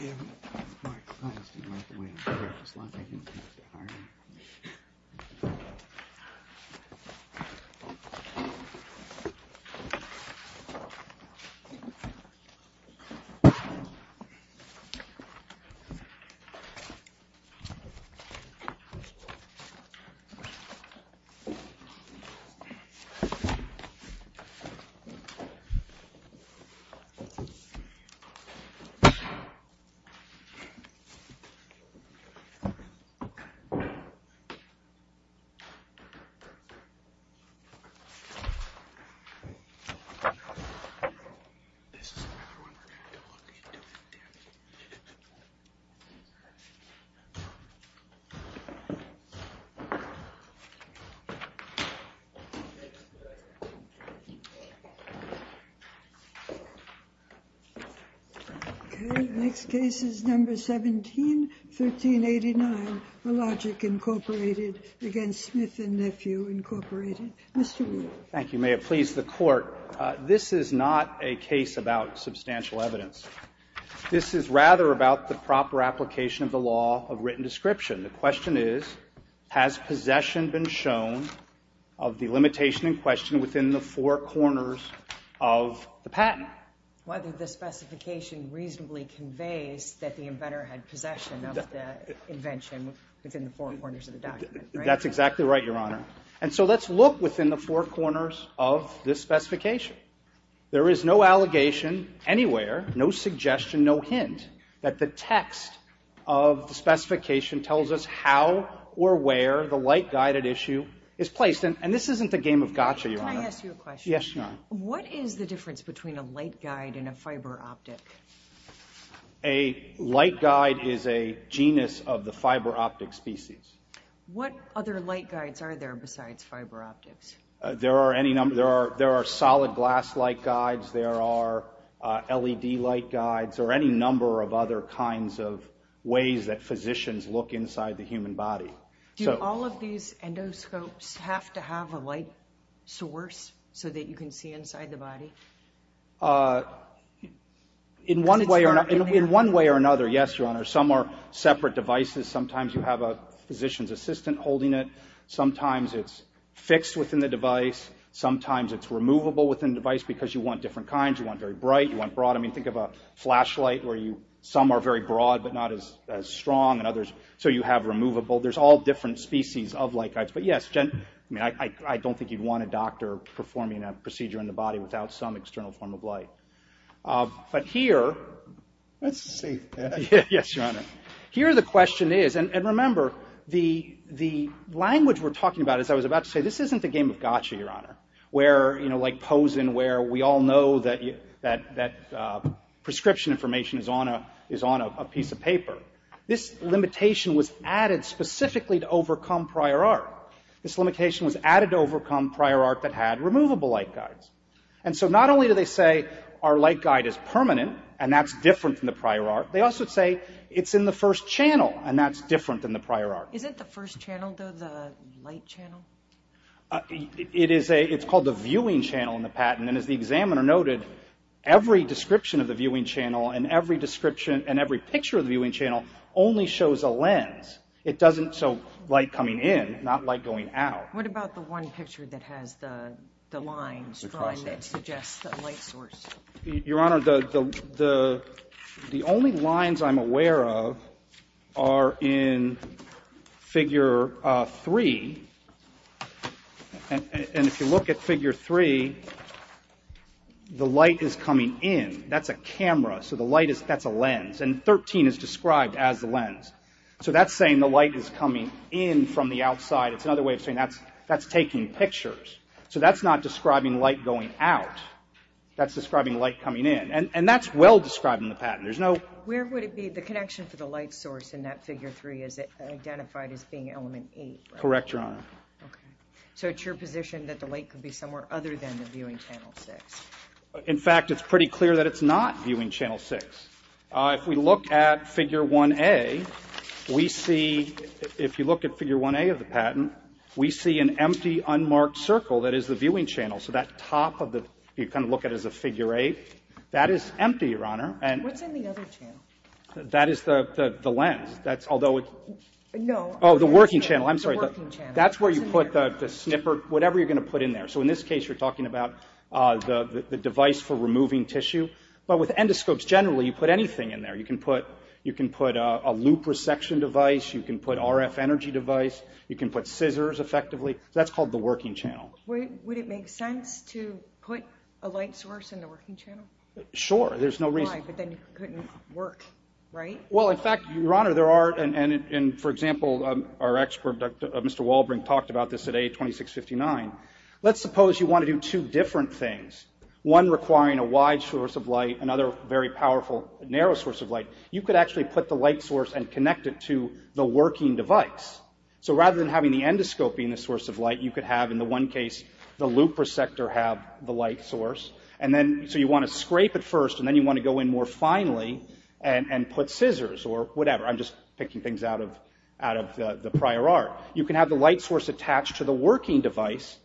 Yeah, my clients didn't like the way I did it. It was like I didn't have to hire them. This is another one we're going to have to look into. Okay, next case is No. 17, 1389, Hologic, Inc. v. Smith & Nephew, Inc. Mr. Weaver. Thank you, Mayor. Please, the Court. This is not a case about substantial evidence. This is rather about the proper application of the law of written description. The question is, has possession been shown of the limitation in question within the four corners of the patent? Whether the specification reasonably conveys that the inventor had possession of the invention within the four corners of the document, right? That's exactly right, Your Honor. And so let's look within the four corners of this specification. There is no allegation anywhere, no suggestion, no hint that the text of the specification tells us how or where the light guided issue is placed. And this isn't the game of gotcha, Your Honor. Can I ask you a question? Yes, Your Honor. What is the difference between a light guide and a fiber optic? A light guide is a genus of the fiber optic species. What other light guides are there besides fiber optics? There are solid glass light guides. There are LED light guides or any number of other kinds of ways that physicians look inside the human body. Do all of these endoscopes have to have a light source so that you can see inside the body? In one way or another, yes, Your Honor, some are separate devices. Sometimes you have a physician's assistant holding it. Sometimes it's fixed within the device. Sometimes it's removable within the device because you want different kinds. You want very bright. You want broad. I mean, think of a flashlight where some are very broad but not as strong and others. So you have removable. There's all different species of light guides. But yes, I mean, I don't think you'd want a doctor performing a procedure in the body without some external form of light. But here, let's see. Yes, Your Honor. Here the question is, and remember, the language we're talking about, as I was about to say, this isn't the game of gotcha, Your Honor, where, you know, like Posen where we all know that prescription information is on a piece of paper. This limitation was added specifically to overcome prior art. This limitation was added to overcome prior art that had removable light guides. And so not only do they say our light guide is permanent and that's different from the prior art, they also say it's in the first channel and that's different than the prior art. Isn't the first channel, though, the light channel? It's called the viewing channel in the patent. And as the examiner noted, every description of the viewing channel and every description and every picture of the viewing channel only shows a lens. It doesn't show light coming in, not light going out. What about the one picture that has the line that suggests the light source? Your Honor, the only lines I'm aware of are in Figure 3. And if you look at Figure 3, the light is coming in. That's a camera, so that's a lens. And 13 is described as the lens. So that's saying the light is coming in from the outside. It's another way of saying that's taking pictures. So that's not describing light going out. That's describing light coming in. And that's well described in the patent. Where would it be the connection for the light source in that Figure 3 is it identified as being element 8? Correct, Your Honor. Okay. So it's your position that the light could be somewhere other than the viewing channel 6? In fact, it's pretty clear that it's not viewing channel 6. If we look at Figure 1A, we see, if you look at Figure 1A of the patent, we see an empty, unmarked circle that is the viewing channel. So that top of the, you kind of look at it as a Figure 8. That is empty, Your Honor. What's in the other channel? That is the lens. No. Oh, the working channel. I'm sorry. The working channel. That's where you put the snipper, whatever you're going to put in there. So in this case, you're talking about the device for removing tissue. But with endoscopes, generally, you put anything in there. You can put a loop resection device. You can put RF energy device. You can put scissors, effectively. That's called the working channel. Would it make sense to put a light source in the working channel? Sure. There's no reason. Why? But then it couldn't work, right? Well, in fact, Your Honor, there are, and for example, our expert, Mr. Walbring, talked about this at A2659. Let's suppose you want to do two different things, one requiring a wide source of light, another very powerful, narrow source of light. You could actually put the light source and connect it to the working device. So rather than having the endoscope being the source of light, you could have, in the one case, the loop resector have the light source. And then, so you want to scrape it first, and then you want to go in more finely and put scissors or whatever. I'm just picking things out of the prior art. You can have the light source attached to the working device,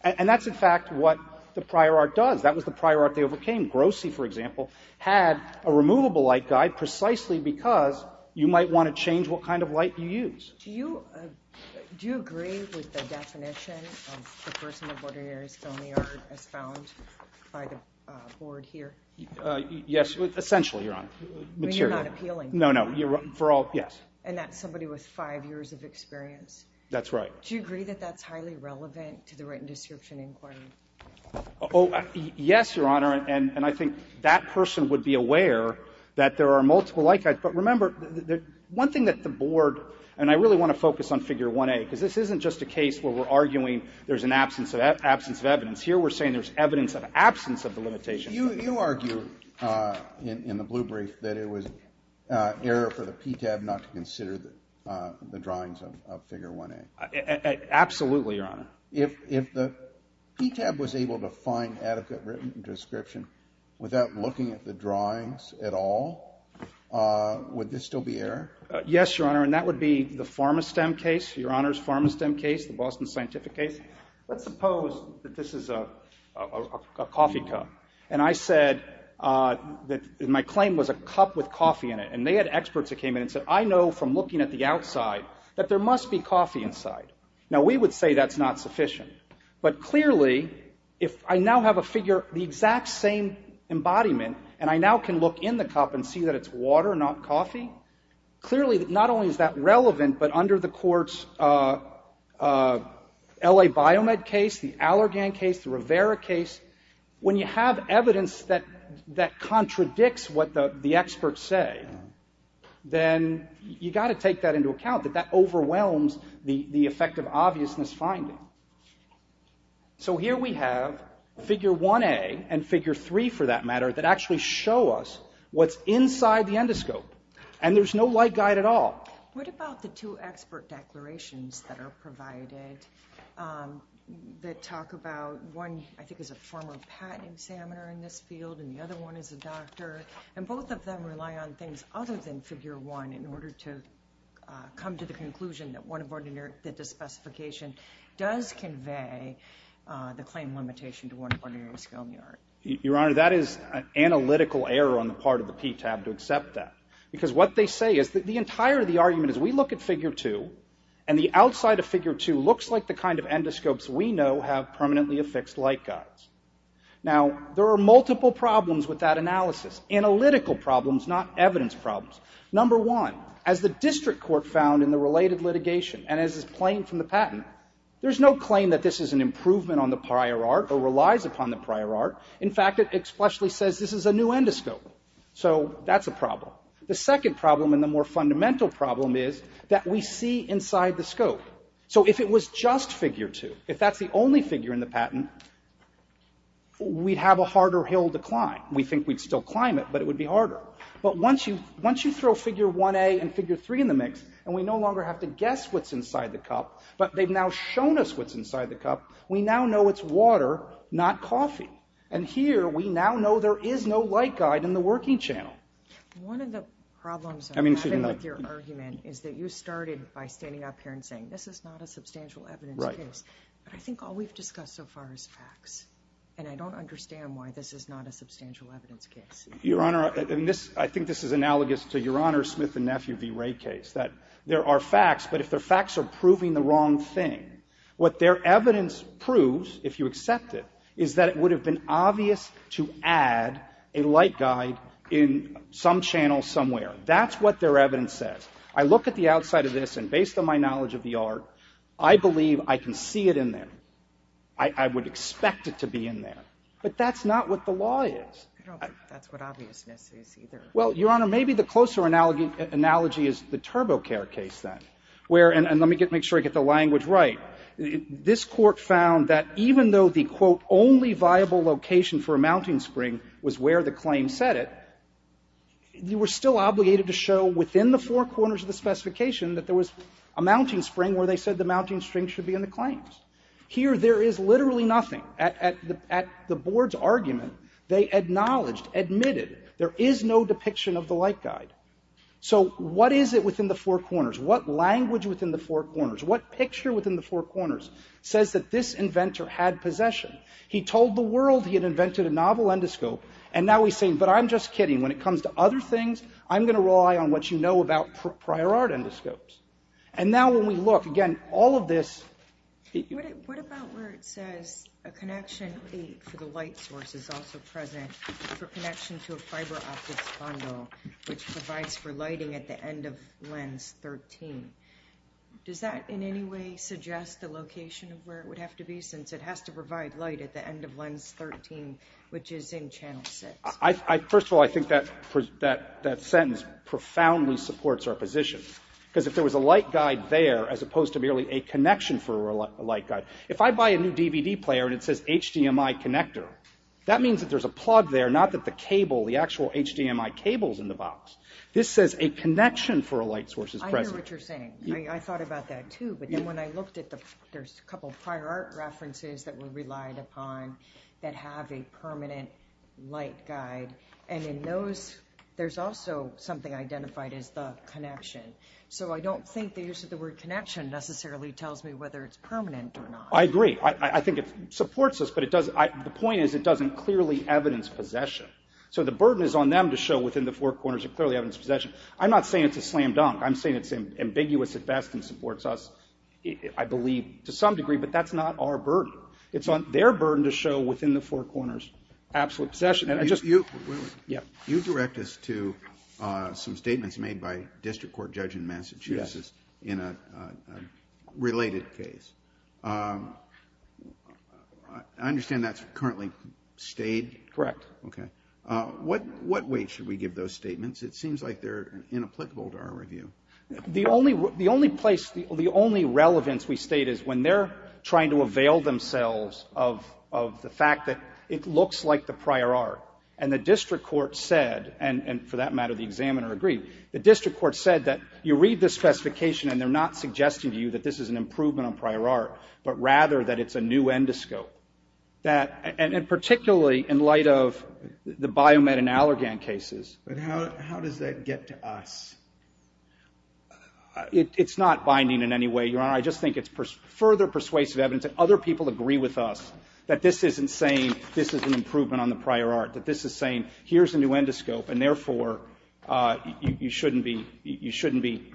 and that's, in fact, what the prior art does. That was the prior art they overcame. Grossi, for example, had a removable light guide precisely because you might want to change what kind of light you use. Do you agree with the definition of the person of ordinary skill in the art as found by the board here? Yes, essentially, Your Honor. But you're not appealing. No, no. Yes. And that's somebody with five years of experience. That's right. Do you agree that that's highly relevant to the written description inquiry? Oh, yes, Your Honor. And I think that person would be aware that there are multiple light guides. But remember, one thing that the board, and I really want to focus on Figure 1A, because this isn't just a case where we're arguing there's an absence of evidence. Here we're saying there's evidence of absence of the limitation. You argue in the blue brief that it was error for the PTAB not to consider the drawings of Figure 1A. Absolutely, Your Honor. If the PTAB was able to find adequate written description without looking at the drawings at all, would this still be error? Yes, Your Honor, and that would be the PharmaSTEM case, Your Honor's PharmaSTEM case, the Boston Scientific case. Let's suppose that this is a coffee cup, and I said that my claim was a cup with coffee in it. And they had experts that came in and said, I know from looking at the outside that there must be coffee inside. Now, we would say that's not sufficient. But clearly, if I now have a figure, the exact same embodiment, and I now can look in the cup and see that it's water, not coffee, clearly not only is that relevant, but under the court's L.A. Biomed case, the Allergan case, the Rivera case, when you have evidence that contradicts what the experts say, then you've got to take that into account, that that overwhelms the effect of obviousness finding. So here we have figure 1A and figure 3, for that matter, that actually show us what's inside the endoscope, and there's no light guide at all. What about the two expert declarations that are provided that talk about one, I think, is a former patent examiner in this field, and the other one is a doctor, and both of them rely on things other than figure 1 in order to come to the conclusion that the specification does convey the claim limitation to one of ordinary scaly art. Your Honor, that is an analytical error on the part of the PTAB to accept that, because what they say is that the entire argument is we look at figure 2, and the outside of figure 2 looks like the kind of endoscopes we know have permanently affixed light guides. Now, there are multiple problems with that analysis, analytical problems, not evidence problems. Number one, as the district court found in the related litigation and as is plain from the patent, there's no claim that this is an improvement on the prior art or relies upon the prior art. In fact, it expressly says this is a new endoscope. So that's a problem. The second problem and the more fundamental problem is that we see inside the scope. So if it was just figure 2, if that's the only figure in the patent, we'd have a harder hill to climb. We think we'd still climb it, but it would be harder. But once you throw figure 1A and figure 3 in the mix and we no longer have to guess what's inside the cup, but they've now shown us what's inside the cup, we now know it's water, not coffee. And here we now know there is no light guide in the working channel. One of the problems I'm having with your argument is that you started by standing up here and saying this is not a substantial evidence case. Right. But I think all we've discussed so far is facts, and I don't understand why this is not a substantial evidence case. Your Honor, I think this is analogous to your Honor's Smith and Nephew v. Wray case, that there are facts, but if the facts are proving the wrong thing, what their evidence proves, if you accept it, is that it would have been obvious to add a light guide in some channel somewhere. That's what their evidence says. I look at the outside of this, and based on my knowledge of the art, I believe I can see it in there. I would expect it to be in there. But that's not what the law is. I don't think that's what obviousness is either. Well, Your Honor, maybe the closer analogy is the TurboCare case, then. And let me make sure I get the language right. This Court found that even though the, quote, only viable location for a mounting spring was where the claim said it, you were still obligated to show within the four corners of the specification that there was a mounting spring where they said the mounting string should be in the claims. Here there is literally nothing. At the Board's argument, they acknowledged, admitted, there is no depiction of the light guide. So what is it within the four corners? What language within the four corners? What picture within the four corners says that this inventor had possession? He told the world he had invented a novel endoscope, and now he's saying, but I'm just kidding, when it comes to other things, I'm going to rely on what you know about prior art endoscopes. And now when we look, again, all of this... What about where it says a connection for the light source is also present for connection to a fiber optics bundle, which provides for lighting at the end of lens 13? Does that in any way suggest the location of where it would have to be, since it has to provide light at the end of lens 13, which is in channel 6? First of all, I think that sentence profoundly supports our position. Because if there was a light guide there, as opposed to merely a connection for a light guide, if I buy a new DVD player and it says HDMI connector, that means that there's a plug there, not that the cable, the actual HDMI cable's in the box. This says a connection for a light source is present. I hear what you're saying. I thought about that too. But then when I looked at the... There's a couple of prior art references that we relied upon that have a permanent light guide. And in those, there's also something identified as the connection. So I don't think the use of the word connection necessarily tells me whether it's permanent or not. I agree. I think it supports us. But the point is it doesn't clearly evidence possession. So the burden is on them to show within the four corners a clearly evidenced possession. I'm not saying it's a slam dunk. I'm saying it's ambiguous at best and supports us, I believe, to some degree. But that's not our burden. It's their burden to show within the four corners absolute possession. You direct us to some statements made by a district court judge in Massachusetts in a related case. I understand that's currently stayed? Correct. Okay. What weight should we give those statements? It seems like they're inapplicable to our review. The only place, the only relevance we state is when they're trying to avail themselves of the fact that it looks like the prior art. And the district court said, and for that matter the examiner agreed, the district court said that you read the specification and they're not suggesting to you that this is an improvement on prior art, but rather that it's a new endoscope. And particularly in light of the Biomed and Allergan cases. But how does that get to us? It's not binding in any way, Your Honor. I just think it's further persuasive evidence that other people agree with us that this isn't saying this is an improvement on the prior art, that this is saying here's a new endoscope and therefore you shouldn't be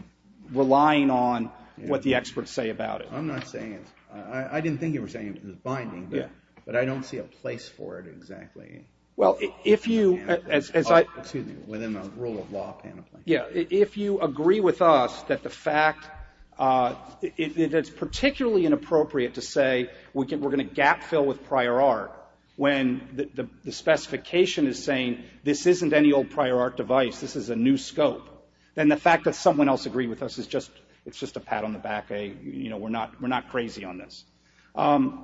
relying on what the experts say about it. I'm not saying it's, I didn't think you were saying it was binding, but I don't see a place for it exactly. Well, if you, as I. Excuse me, within the rule of law panoply. Yeah, if you agree with us that the fact, that it's particularly inappropriate to say we're going to gap fill with prior art when the specification is saying this isn't any old prior art device, this is a new scope, then the fact that someone else agreed with us is just, it's just a pat on the back, a, you know, we're not crazy on this. I'm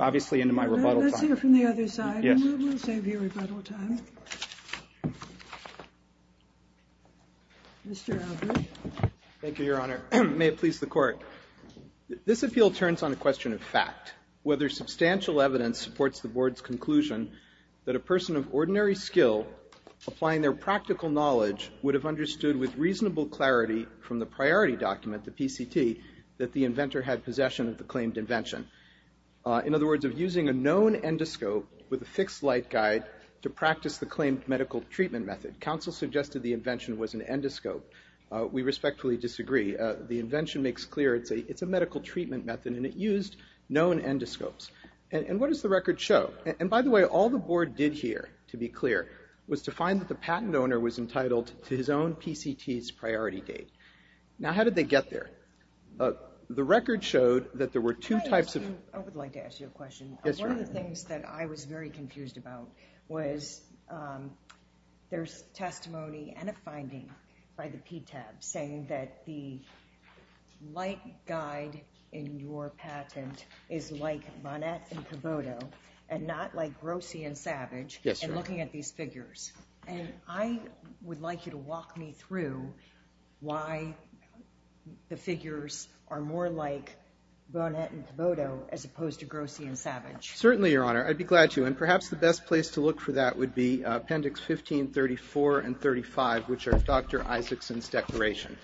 obviously into my rebuttal time. Let's hear from the other side, and we'll save you rebuttal time. Mr. Albrecht. Thank you, Your Honor. May it please the Court. This appeal turns on a question of fact, whether substantial evidence supports the Board's conclusion that a person of ordinary skill applying their practical knowledge would have understood with reasonable clarity from the priority document, the PCT, that the inventor had possession of the claimed invention. In other words, of using a known endoscope with a fixed light guide to practice the claimed medical treatment method. Counsel suggested the invention was an endoscope. We respectfully disagree. The invention makes clear it's a medical treatment method, and it used known endoscopes. And what does the record show? And, by the way, all the Board did here, to be clear, was to find that the patent owner was entitled to his own PCT's priority date. Now, how did they get there? The record showed that there were two types of... I would like to ask you a question. Yes, Your Honor. One of the things that I was very confused about was there's testimony and a finding by the PTAB saying that the light guide in your patent is like Bonnet and Thibodeau and not like Grossi and Savage. Yes, Your Honor. And looking at these figures. And I would like you to walk me through why the figures are more like Bonnet and Thibodeau as opposed to Grossi and Savage. Certainly, Your Honor. I'd be glad to. And perhaps the best place to look for that would be Appendix 15, 34, and 35, which are Dr. Isaacson's declaration.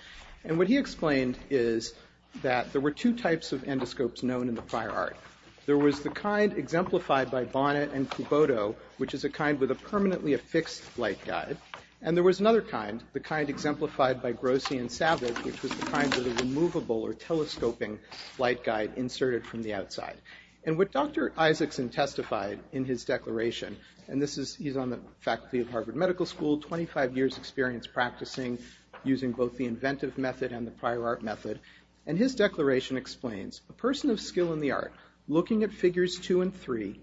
And what he explained is that there were two types of endoscopes known in the prior art. There was the kind exemplified by Bonnet and Thibodeau, which is a kind with a permanently affixed light guide. And there was another kind, the kind exemplified by Grossi and Savage, which was the kind with a removable or telescoping light guide inserted from the outside. And what Dr. Isaacson testified in his declaration, and he's on the faculty of Harvard Medical School, 25 years' experience practicing using both the inventive method and the prior art method. And his declaration explains, a person of skill in the art looking at figures two and three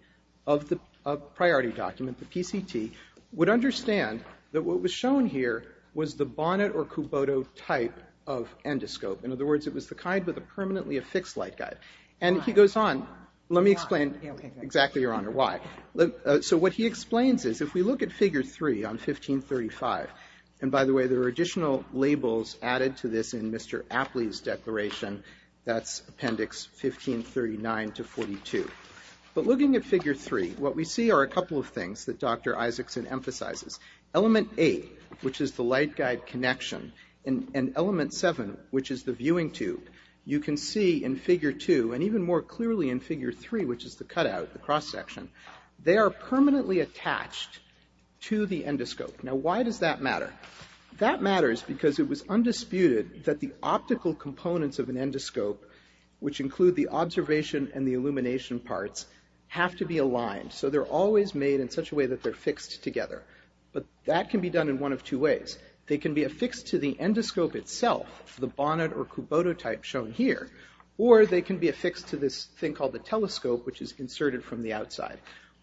of the priority document, the PCT, would understand that what was shown here was the Bonnet or Thibodeau type of endoscope. In other words, it was the kind with a permanently affixed light guide. And he goes on. Let me explain exactly, Your Honor, why. So what he explains is if we look at Figure 3 on 1535, and by the way, there are additional labels added to this in Mr. Apley's declaration, that's Appendix 15, 39 to 42. But looking at Figure 3, what we see are a couple of things that Dr. Isaacson emphasizes. Element 8, which is the light guide connection, and Element 7, which is the viewing tube, you can see in Figure 2, and even more clearly in Figure 3, which is the cutout, the cross-section, they are permanently attached to the endoscope. Now, why does that matter? That matters because it was undisputed that the optical components of an endoscope, which include the observation and the illumination parts, have to be aligned. So they're always made in such a way that they're fixed together. But that can be done in one of two ways. They can be affixed to the endoscope itself, the bonnet or cubotto type shown here, or they can be affixed to this thing called the telescope, which is inserted from the outside.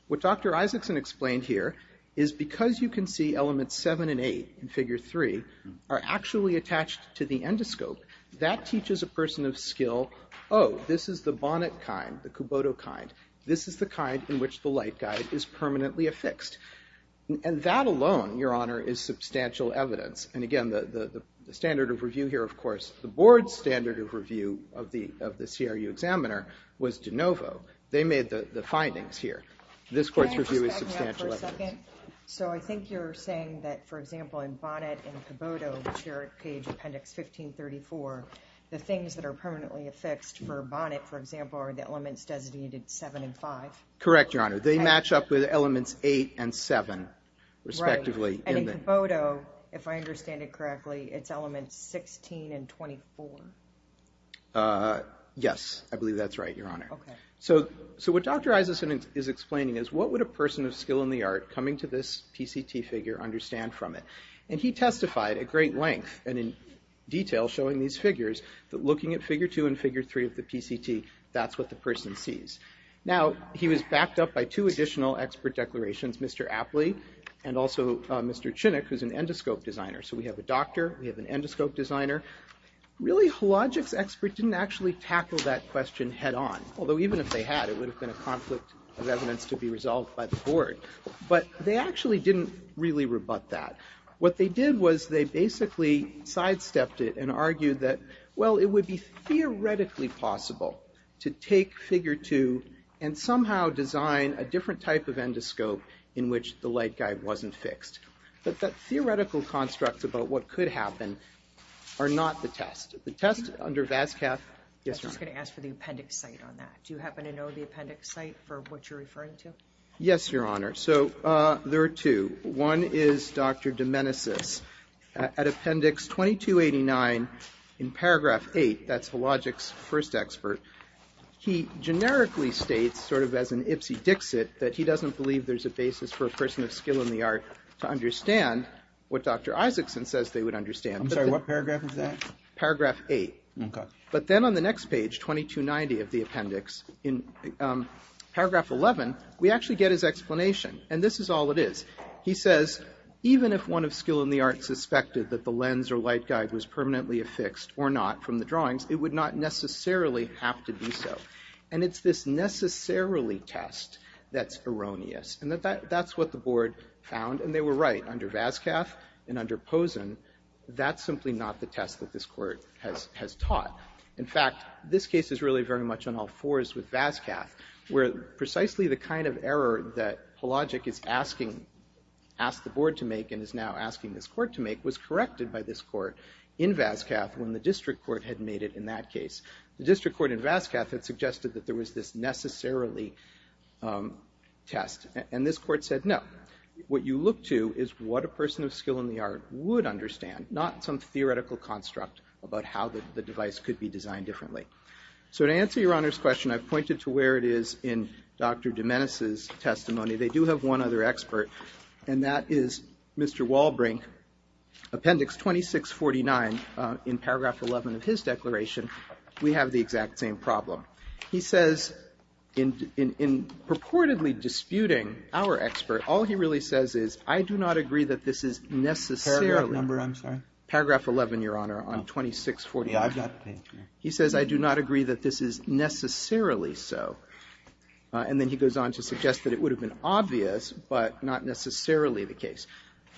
What Dr. Isaacson explained here is because you can see Elements 7 and 8 in Figure 3 are actually attached to the endoscope, that teaches a person of skill, oh, this is the bonnet kind, the cubotto kind. This is the kind in which the light guide is permanently affixed. And that alone, Your Honor, is substantial evidence. And again, the standard of review here, of course, the board's standard of review of the CRU examiner was de novo. They made the findings here. This court's review is substantial evidence. Can I just back me up for a second? So I think you're saying that, for example, in bonnet and cubotto, which are at page appendix 1534, the things that are permanently affixed for bonnet, for example, are the elements designated 7 and 5? Correct, Your Honor. They match up with Elements 8 and 7, respectively. Right. And in cubotto, if I understand it correctly, it's Elements 16 and 24. Yes, I believe that's right, Your Honor. Okay. So what Dr. Isaacson is explaining is what would a person of skill in the art coming to this PCT figure understand from it? And he testified at great length and in detail showing these figures that looking at Figure 2 and Figure 3 of the PCT, that's what the person sees. Now, he was backed up by two additional expert declarations, Mr. Apley and also Mr. Chinook, who's an endoscope designer. So we have a doctor, we have an endoscope designer. Really, Hologic's expert didn't actually tackle that question head-on, although even if they had, it would have been a conflict of evidence to be resolved by the board. But they actually didn't really rebut that. What they did was they basically sidestepped it and argued that, well, it would be theoretically possible to take Figure 2 and somehow design a different type of endoscope in which the light guide wasn't fixed. But that theoretical construct about what could happen are not the test. The test under VASCAF... Yes, Your Honor. I was just going to ask for the appendix site on that. Do you happen to know the appendix site for what you're referring to? Yes, Your Honor. So there are two. One is Dr. Domenicis. At appendix 2289 in paragraph 8, that's Hologic's first expert, he generically states, sort of as an ipsy-dixit, that he doesn't believe there's a basis for a person of skill in the art to understand what Dr. Isaacson says they would understand. I'm sorry, what paragraph is that? Paragraph 8. Okay. But then on the next page, 2290 of the appendix, in paragraph 11, we actually get his explanation, and this is all it is. He says, even if one of skill in the art suspected that the lens or light guide was permanently affixed or not from the drawings, it would not necessarily have to be so. And it's this necessarily test that's erroneous. And that's what the board found, and they were right. Under VASCAF and under Posen, that's simply not the test that this court has taught. In fact, this case is really very much on all fours with VASCAF, where precisely the kind of error that Polagic is asking, asked the board to make and is now asking this court to make, was corrected by this court in VASCAF when the district court had made it in that case. The district court in VASCAF had suggested that there was this necessarily test, and this court said no. What you look to is what a person of skill in the art would understand, not some theoretical construct about how the device could be designed differently. So to answer Your Honor's question, I've pointed to where it is in Dr. Domenes' testimony. They do have one other expert, and that is Mr. Walbrink. Appendix 2649, in paragraph 11 of his declaration, we have the exact same problem. He says, in purportedly disputing our expert, all he really says is, I do not agree that this is necessarily... Paragraph number, I'm sorry? Paragraph 11, Your Honor, on 2649. Yeah, I've got... He says, I do not agree that this is necessarily so. And then he goes on to suggest that it would have been obvious, but not necessarily the case.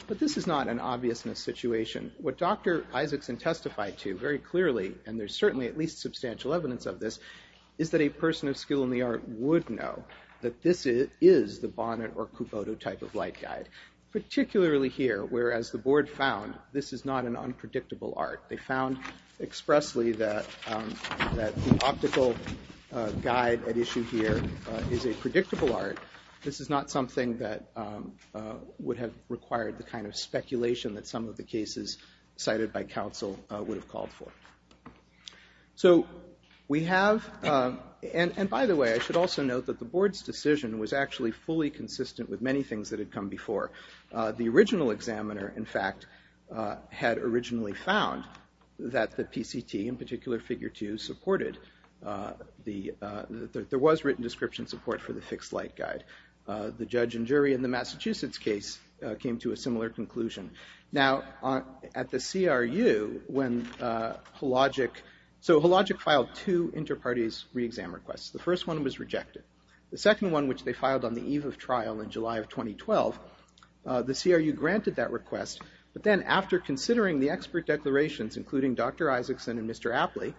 But this is not an obviousness situation. What Dr. Isaacson testified to very clearly, and there's certainly at least substantial evidence of this, is that a person of skill in the art would know that this is the Bonnet or Kubota type of light guide, particularly here, where, as the board found, this is not an unpredictable art. They found expressly that the optical guide at issue here is a predictable art. This is not something that would have required the kind of speculation that some of the cases cited by counsel would have called for. So we have... And by the way, I should also note that the board's decision was actually fully consistent with many things that had come before. The original examiner, in fact, had originally found that the PCT, in particular Figure 2, supported... There was written description support for the fixed light guide. The judge and jury in the Massachusetts case came to a similar conclusion. Now, at the CRU, when Hologic... So Hologic filed two inter-parties re-exam requests. The first one was rejected. The second one, which they filed on the eve of trial in July of 2012, the CRU granted that request. But then, after considering the expert declarations, including Dr Isaacson and Mr Apley,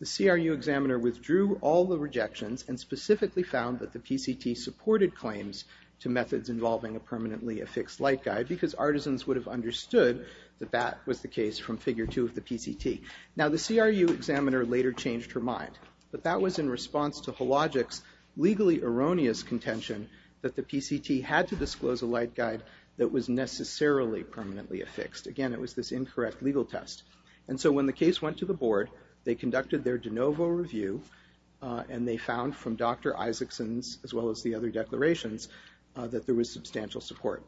the CRU examiner withdrew all the rejections and specifically found that the PCT supported claims to methods involving a permanently affixed light guide because artisans would have understood that that was the case from Figure 2 of the PCT. Now, the CRU examiner later changed her mind, but that was in response to Hologic's legally erroneous contention that the PCT had to disclose a light guide that was necessarily permanently affixed. Again, it was this incorrect legal test. And so when the case went to the board, they conducted their de novo review, and they found from Dr Isaacson's, as well as the other declarations, that there was substantial support.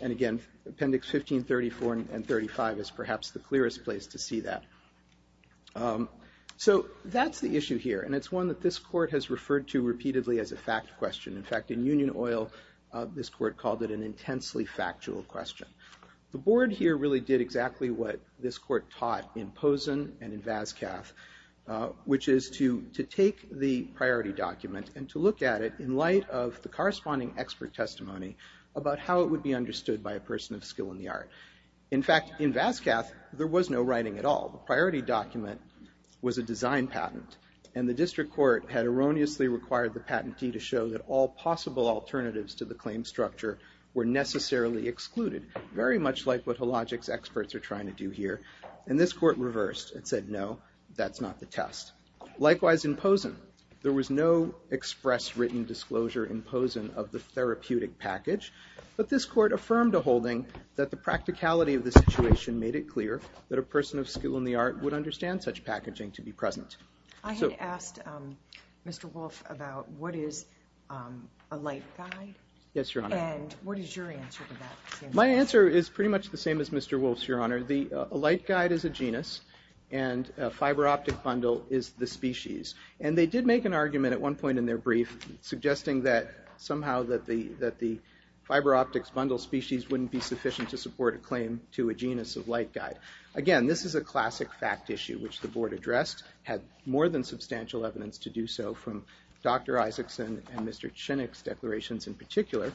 And again, Appendix 1534 and 35 is perhaps the clearest place to see that. So that's the issue here, and it's one that this court has referred to repeatedly as a fact question. In fact, in Union Oil, this court called it an intensely factual question. The board here really did exactly what this court taught in Pozen and in Vascath, which is to take the priority document and to look at it in light of the corresponding expert testimony about how it would be understood by a person of skill in the art. In fact, in Vascath, there was no writing at all. The priority document was a design patent, and the district court had erroneously required the patentee to show that all possible alternatives to the claim structure were necessarily excluded, very much like what Hologic's experts are trying to do here. And this court reversed and said, no, that's not the test. Likewise in Pozen, there was no express written disclosure in Pozen of the therapeutic package, but this court affirmed a holding that the practicality of the situation made it clear that a person of skill in the art would understand such packaging to be present. I had asked Mr. Wolf about what is a light guide? Yes, Your Honor. And what is your answer to that? My answer is pretty much the same as Mr. Wolf's, Your Honor. A light guide is a genus, and a fiber optic bundle is the species. And they did make an argument at one point in their brief suggesting that somehow that the fiber optics bundle species wouldn't be sufficient to support a claim to a genus of light guide. Again, this is a classic fact issue, which the board addressed, had more than substantial evidence to do so from Dr. Isaacson and Mr. Chinnick's declarations in particular.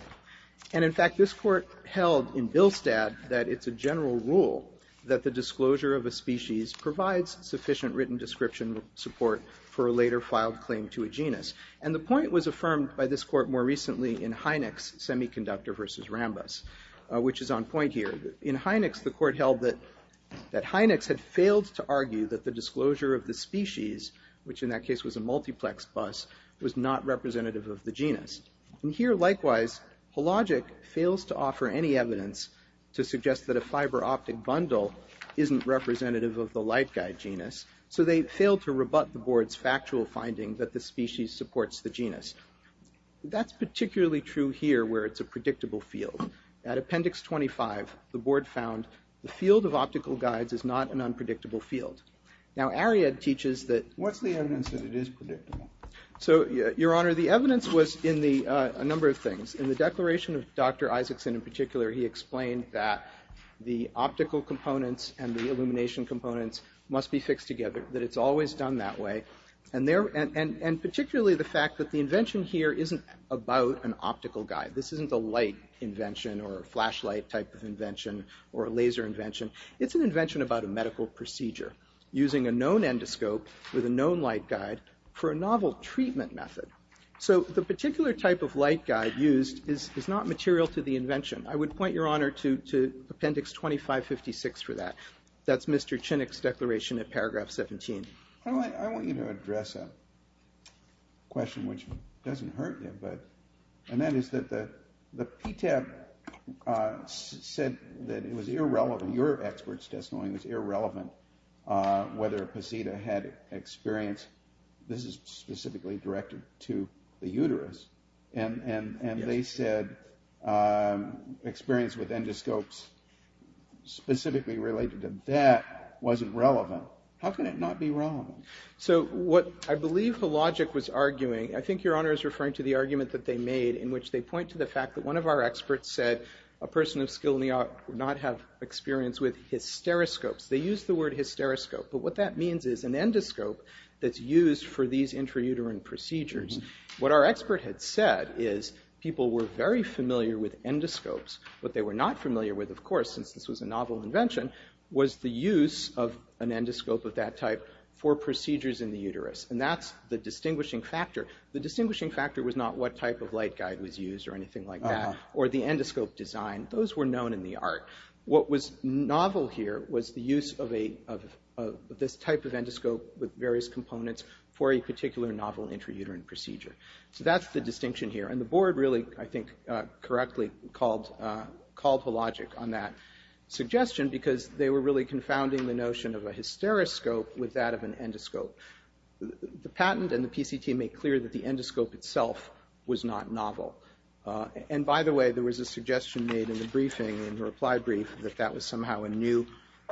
And in fact, this court held in Bilstad that it's a general rule that the disclosure of a species provides sufficient written description support for a later filed claim to a genus. And the point was affirmed by this court more recently in Heineck's Semiconductor versus Rambus, which is on point here. In Heineck's, the court held that Heineck's failed to argue that the disclosure of the species, which in that case was a multiplex bus, was not representative of the genus. And here, likewise, Polagic fails to offer any evidence to suggest that a fiber optic bundle isn't representative of the light guide genus, so they failed to rebut the board's factual finding that the species supports the genus. That's particularly true here where it's a predictable field. At Appendix 25, the board found that the field of optical guides is not an unpredictable field. Now, Ariad teaches that... What's the evidence that it is predictable? So, Your Honor, the evidence was in a number of things. In the declaration of Dr. Isaacson in particular, he explained that the optical components and the illumination components must be fixed together, that it's always done that way, and particularly the fact that the invention here This isn't a light invention or a flashlight type of invention or a laser invention. It's an invention about a medical procedure, using a known endoscope with a known light guide for a novel treatment method. So the particular type of light guide used is not material to the invention. I would point Your Honor to Appendix 2556 for that. That's Mr. Chinnick's declaration in paragraph 17. I want you to address a question which doesn't hurt you, and that is that the PTAB said that it was irrelevant, your expert's testimony was irrelevant, whether Pasita had experience... This is specifically directed to the uterus, and they said experience with endoscopes specifically related to that wasn't relevant. How can it not be wrong? So what I believe the logic was arguing... I think Your Honor is referring to the argument that they made in which they point to the fact that one of our experts said a person of skill would not have experience with hysteroscopes. They used the word hysteroscope, but what that means is an endoscope that's used for these intrauterine procedures. What our expert had said is people were very familiar with endoscopes. What they were not familiar with, of course, since this was a novel invention, was the use of an endoscope of that type for procedures in the uterus, and that's the distinguishing factor. The distinguishing factor was not what type of light guide was used or anything like that, or the endoscope design. Those were known in the art. What was novel here was the use of this type of endoscope with various components for a particular novel intrauterine procedure. So that's the distinction here, and the board really, I think, correctly called the logic on that suggestion because they were really confounding the notion of a hysteroscope with that of an endoscope. The patent and the PCT make clear that the endoscope itself was not novel. And by the way, there was a suggestion made in the briefing, in the reply brief, that that was somehow a new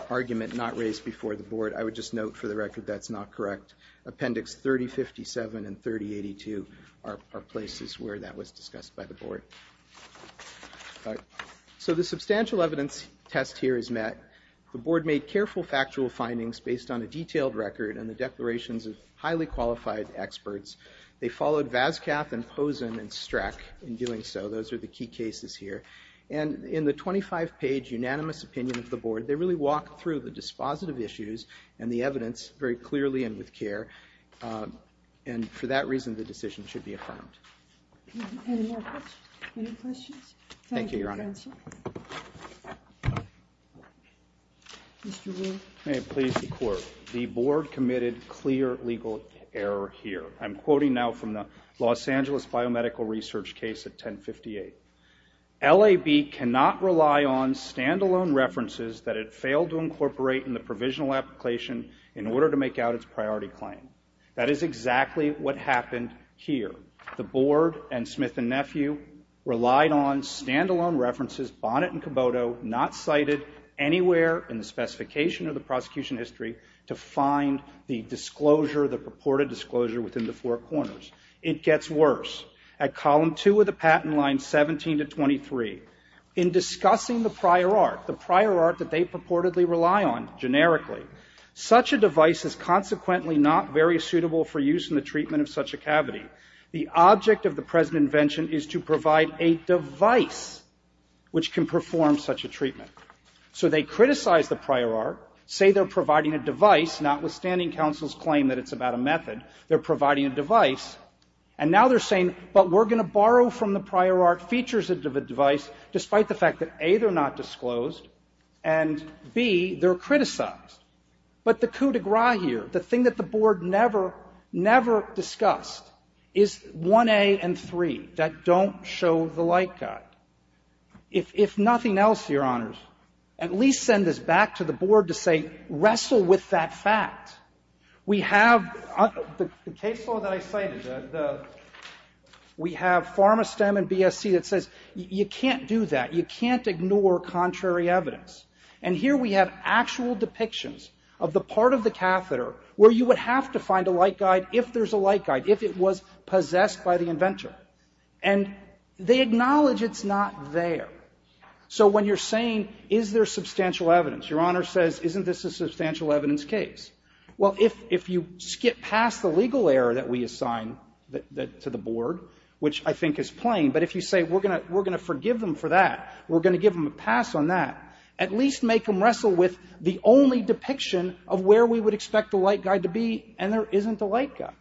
argument not raised before the board. I would just note for the record that's not correct. Appendix 3057 and 3082 are places where that was discussed by the board. So the substantial evidence test here is met. The board made careful factual findings based on a detailed record and the declarations of highly qualified experts. They followed Vascaf and Pozen and Streck in doing so. Those are the key cases here. And in the 25-page unanimous opinion of the board, they really walked through the dispositive issues and the evidence very clearly and with care. And for that reason, the decision should be affirmed. Any more questions? Thank you, Your Honor. Mr. Rule. May it please the Court. The board committed clear legal error here. I'm quoting now from the Los Angeles biomedical research case at 1058. LAB cannot rely on stand-alone references that it failed to incorporate in the provisional application in order to make out its priority claim. That is exactly what happened here. The board and Smith and Nephew relied on stand-alone references, Bonnet and Caboto, not cited anywhere in the specification of the prosecution history to find the disclosure, the purported disclosure, within the four corners. It gets worse. At column 2 of the patent line 17 to 23, in discussing the prior art, the prior art that they purportedly rely on generically, such a device is consequently not very suitable for use in the treatment of such a cavity. The object of the present invention is to provide a device which can perform such a treatment. So they criticize the prior art, say they're providing a device, notwithstanding counsel's claim that it's about a method, they're providing a device, and now they're saying, but we're going to borrow from the prior art features of a device despite the fact that, A, they're not disclosed, and, B, they're criticized. But the coup de grace here, the thing that the Board never, never discussed is 1A and 3, that don't show the light guide. If nothing else, Your Honors, at least send this back to the Board to say, wrestle with that fact. We have, the case law that I cited, we have Pharma-STEM and BSC that says, you can't do that, you can't ignore contrary evidence. And here we have actual depictions of the part of the catheter where you would have to find a light guide if there's a light guide, if it was possessed by the inventor. And they acknowledge it's not there. So when you're saying, is there substantial evidence, Your Honor says, isn't this a substantial evidence case? Well, if you skip past the legal error that we assign to the Board, which I think is plain, but if you say, we're going to forgive them for that, we're going to give them a pass on that, at least make them wrestle with the only depiction of where we would expect the light guide to be, and there isn't a light guide.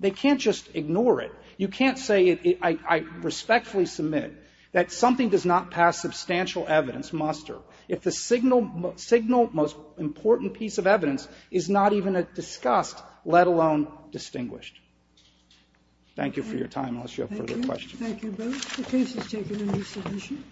They can't just ignore it. You can't say, I respectfully submit, that something does not pass substantial evidence muster if the signal most important piece of evidence is not even discussed, let alone distinguished. Thank you for your time. Unless you have further questions. Thank you both. The case is taken in resolution.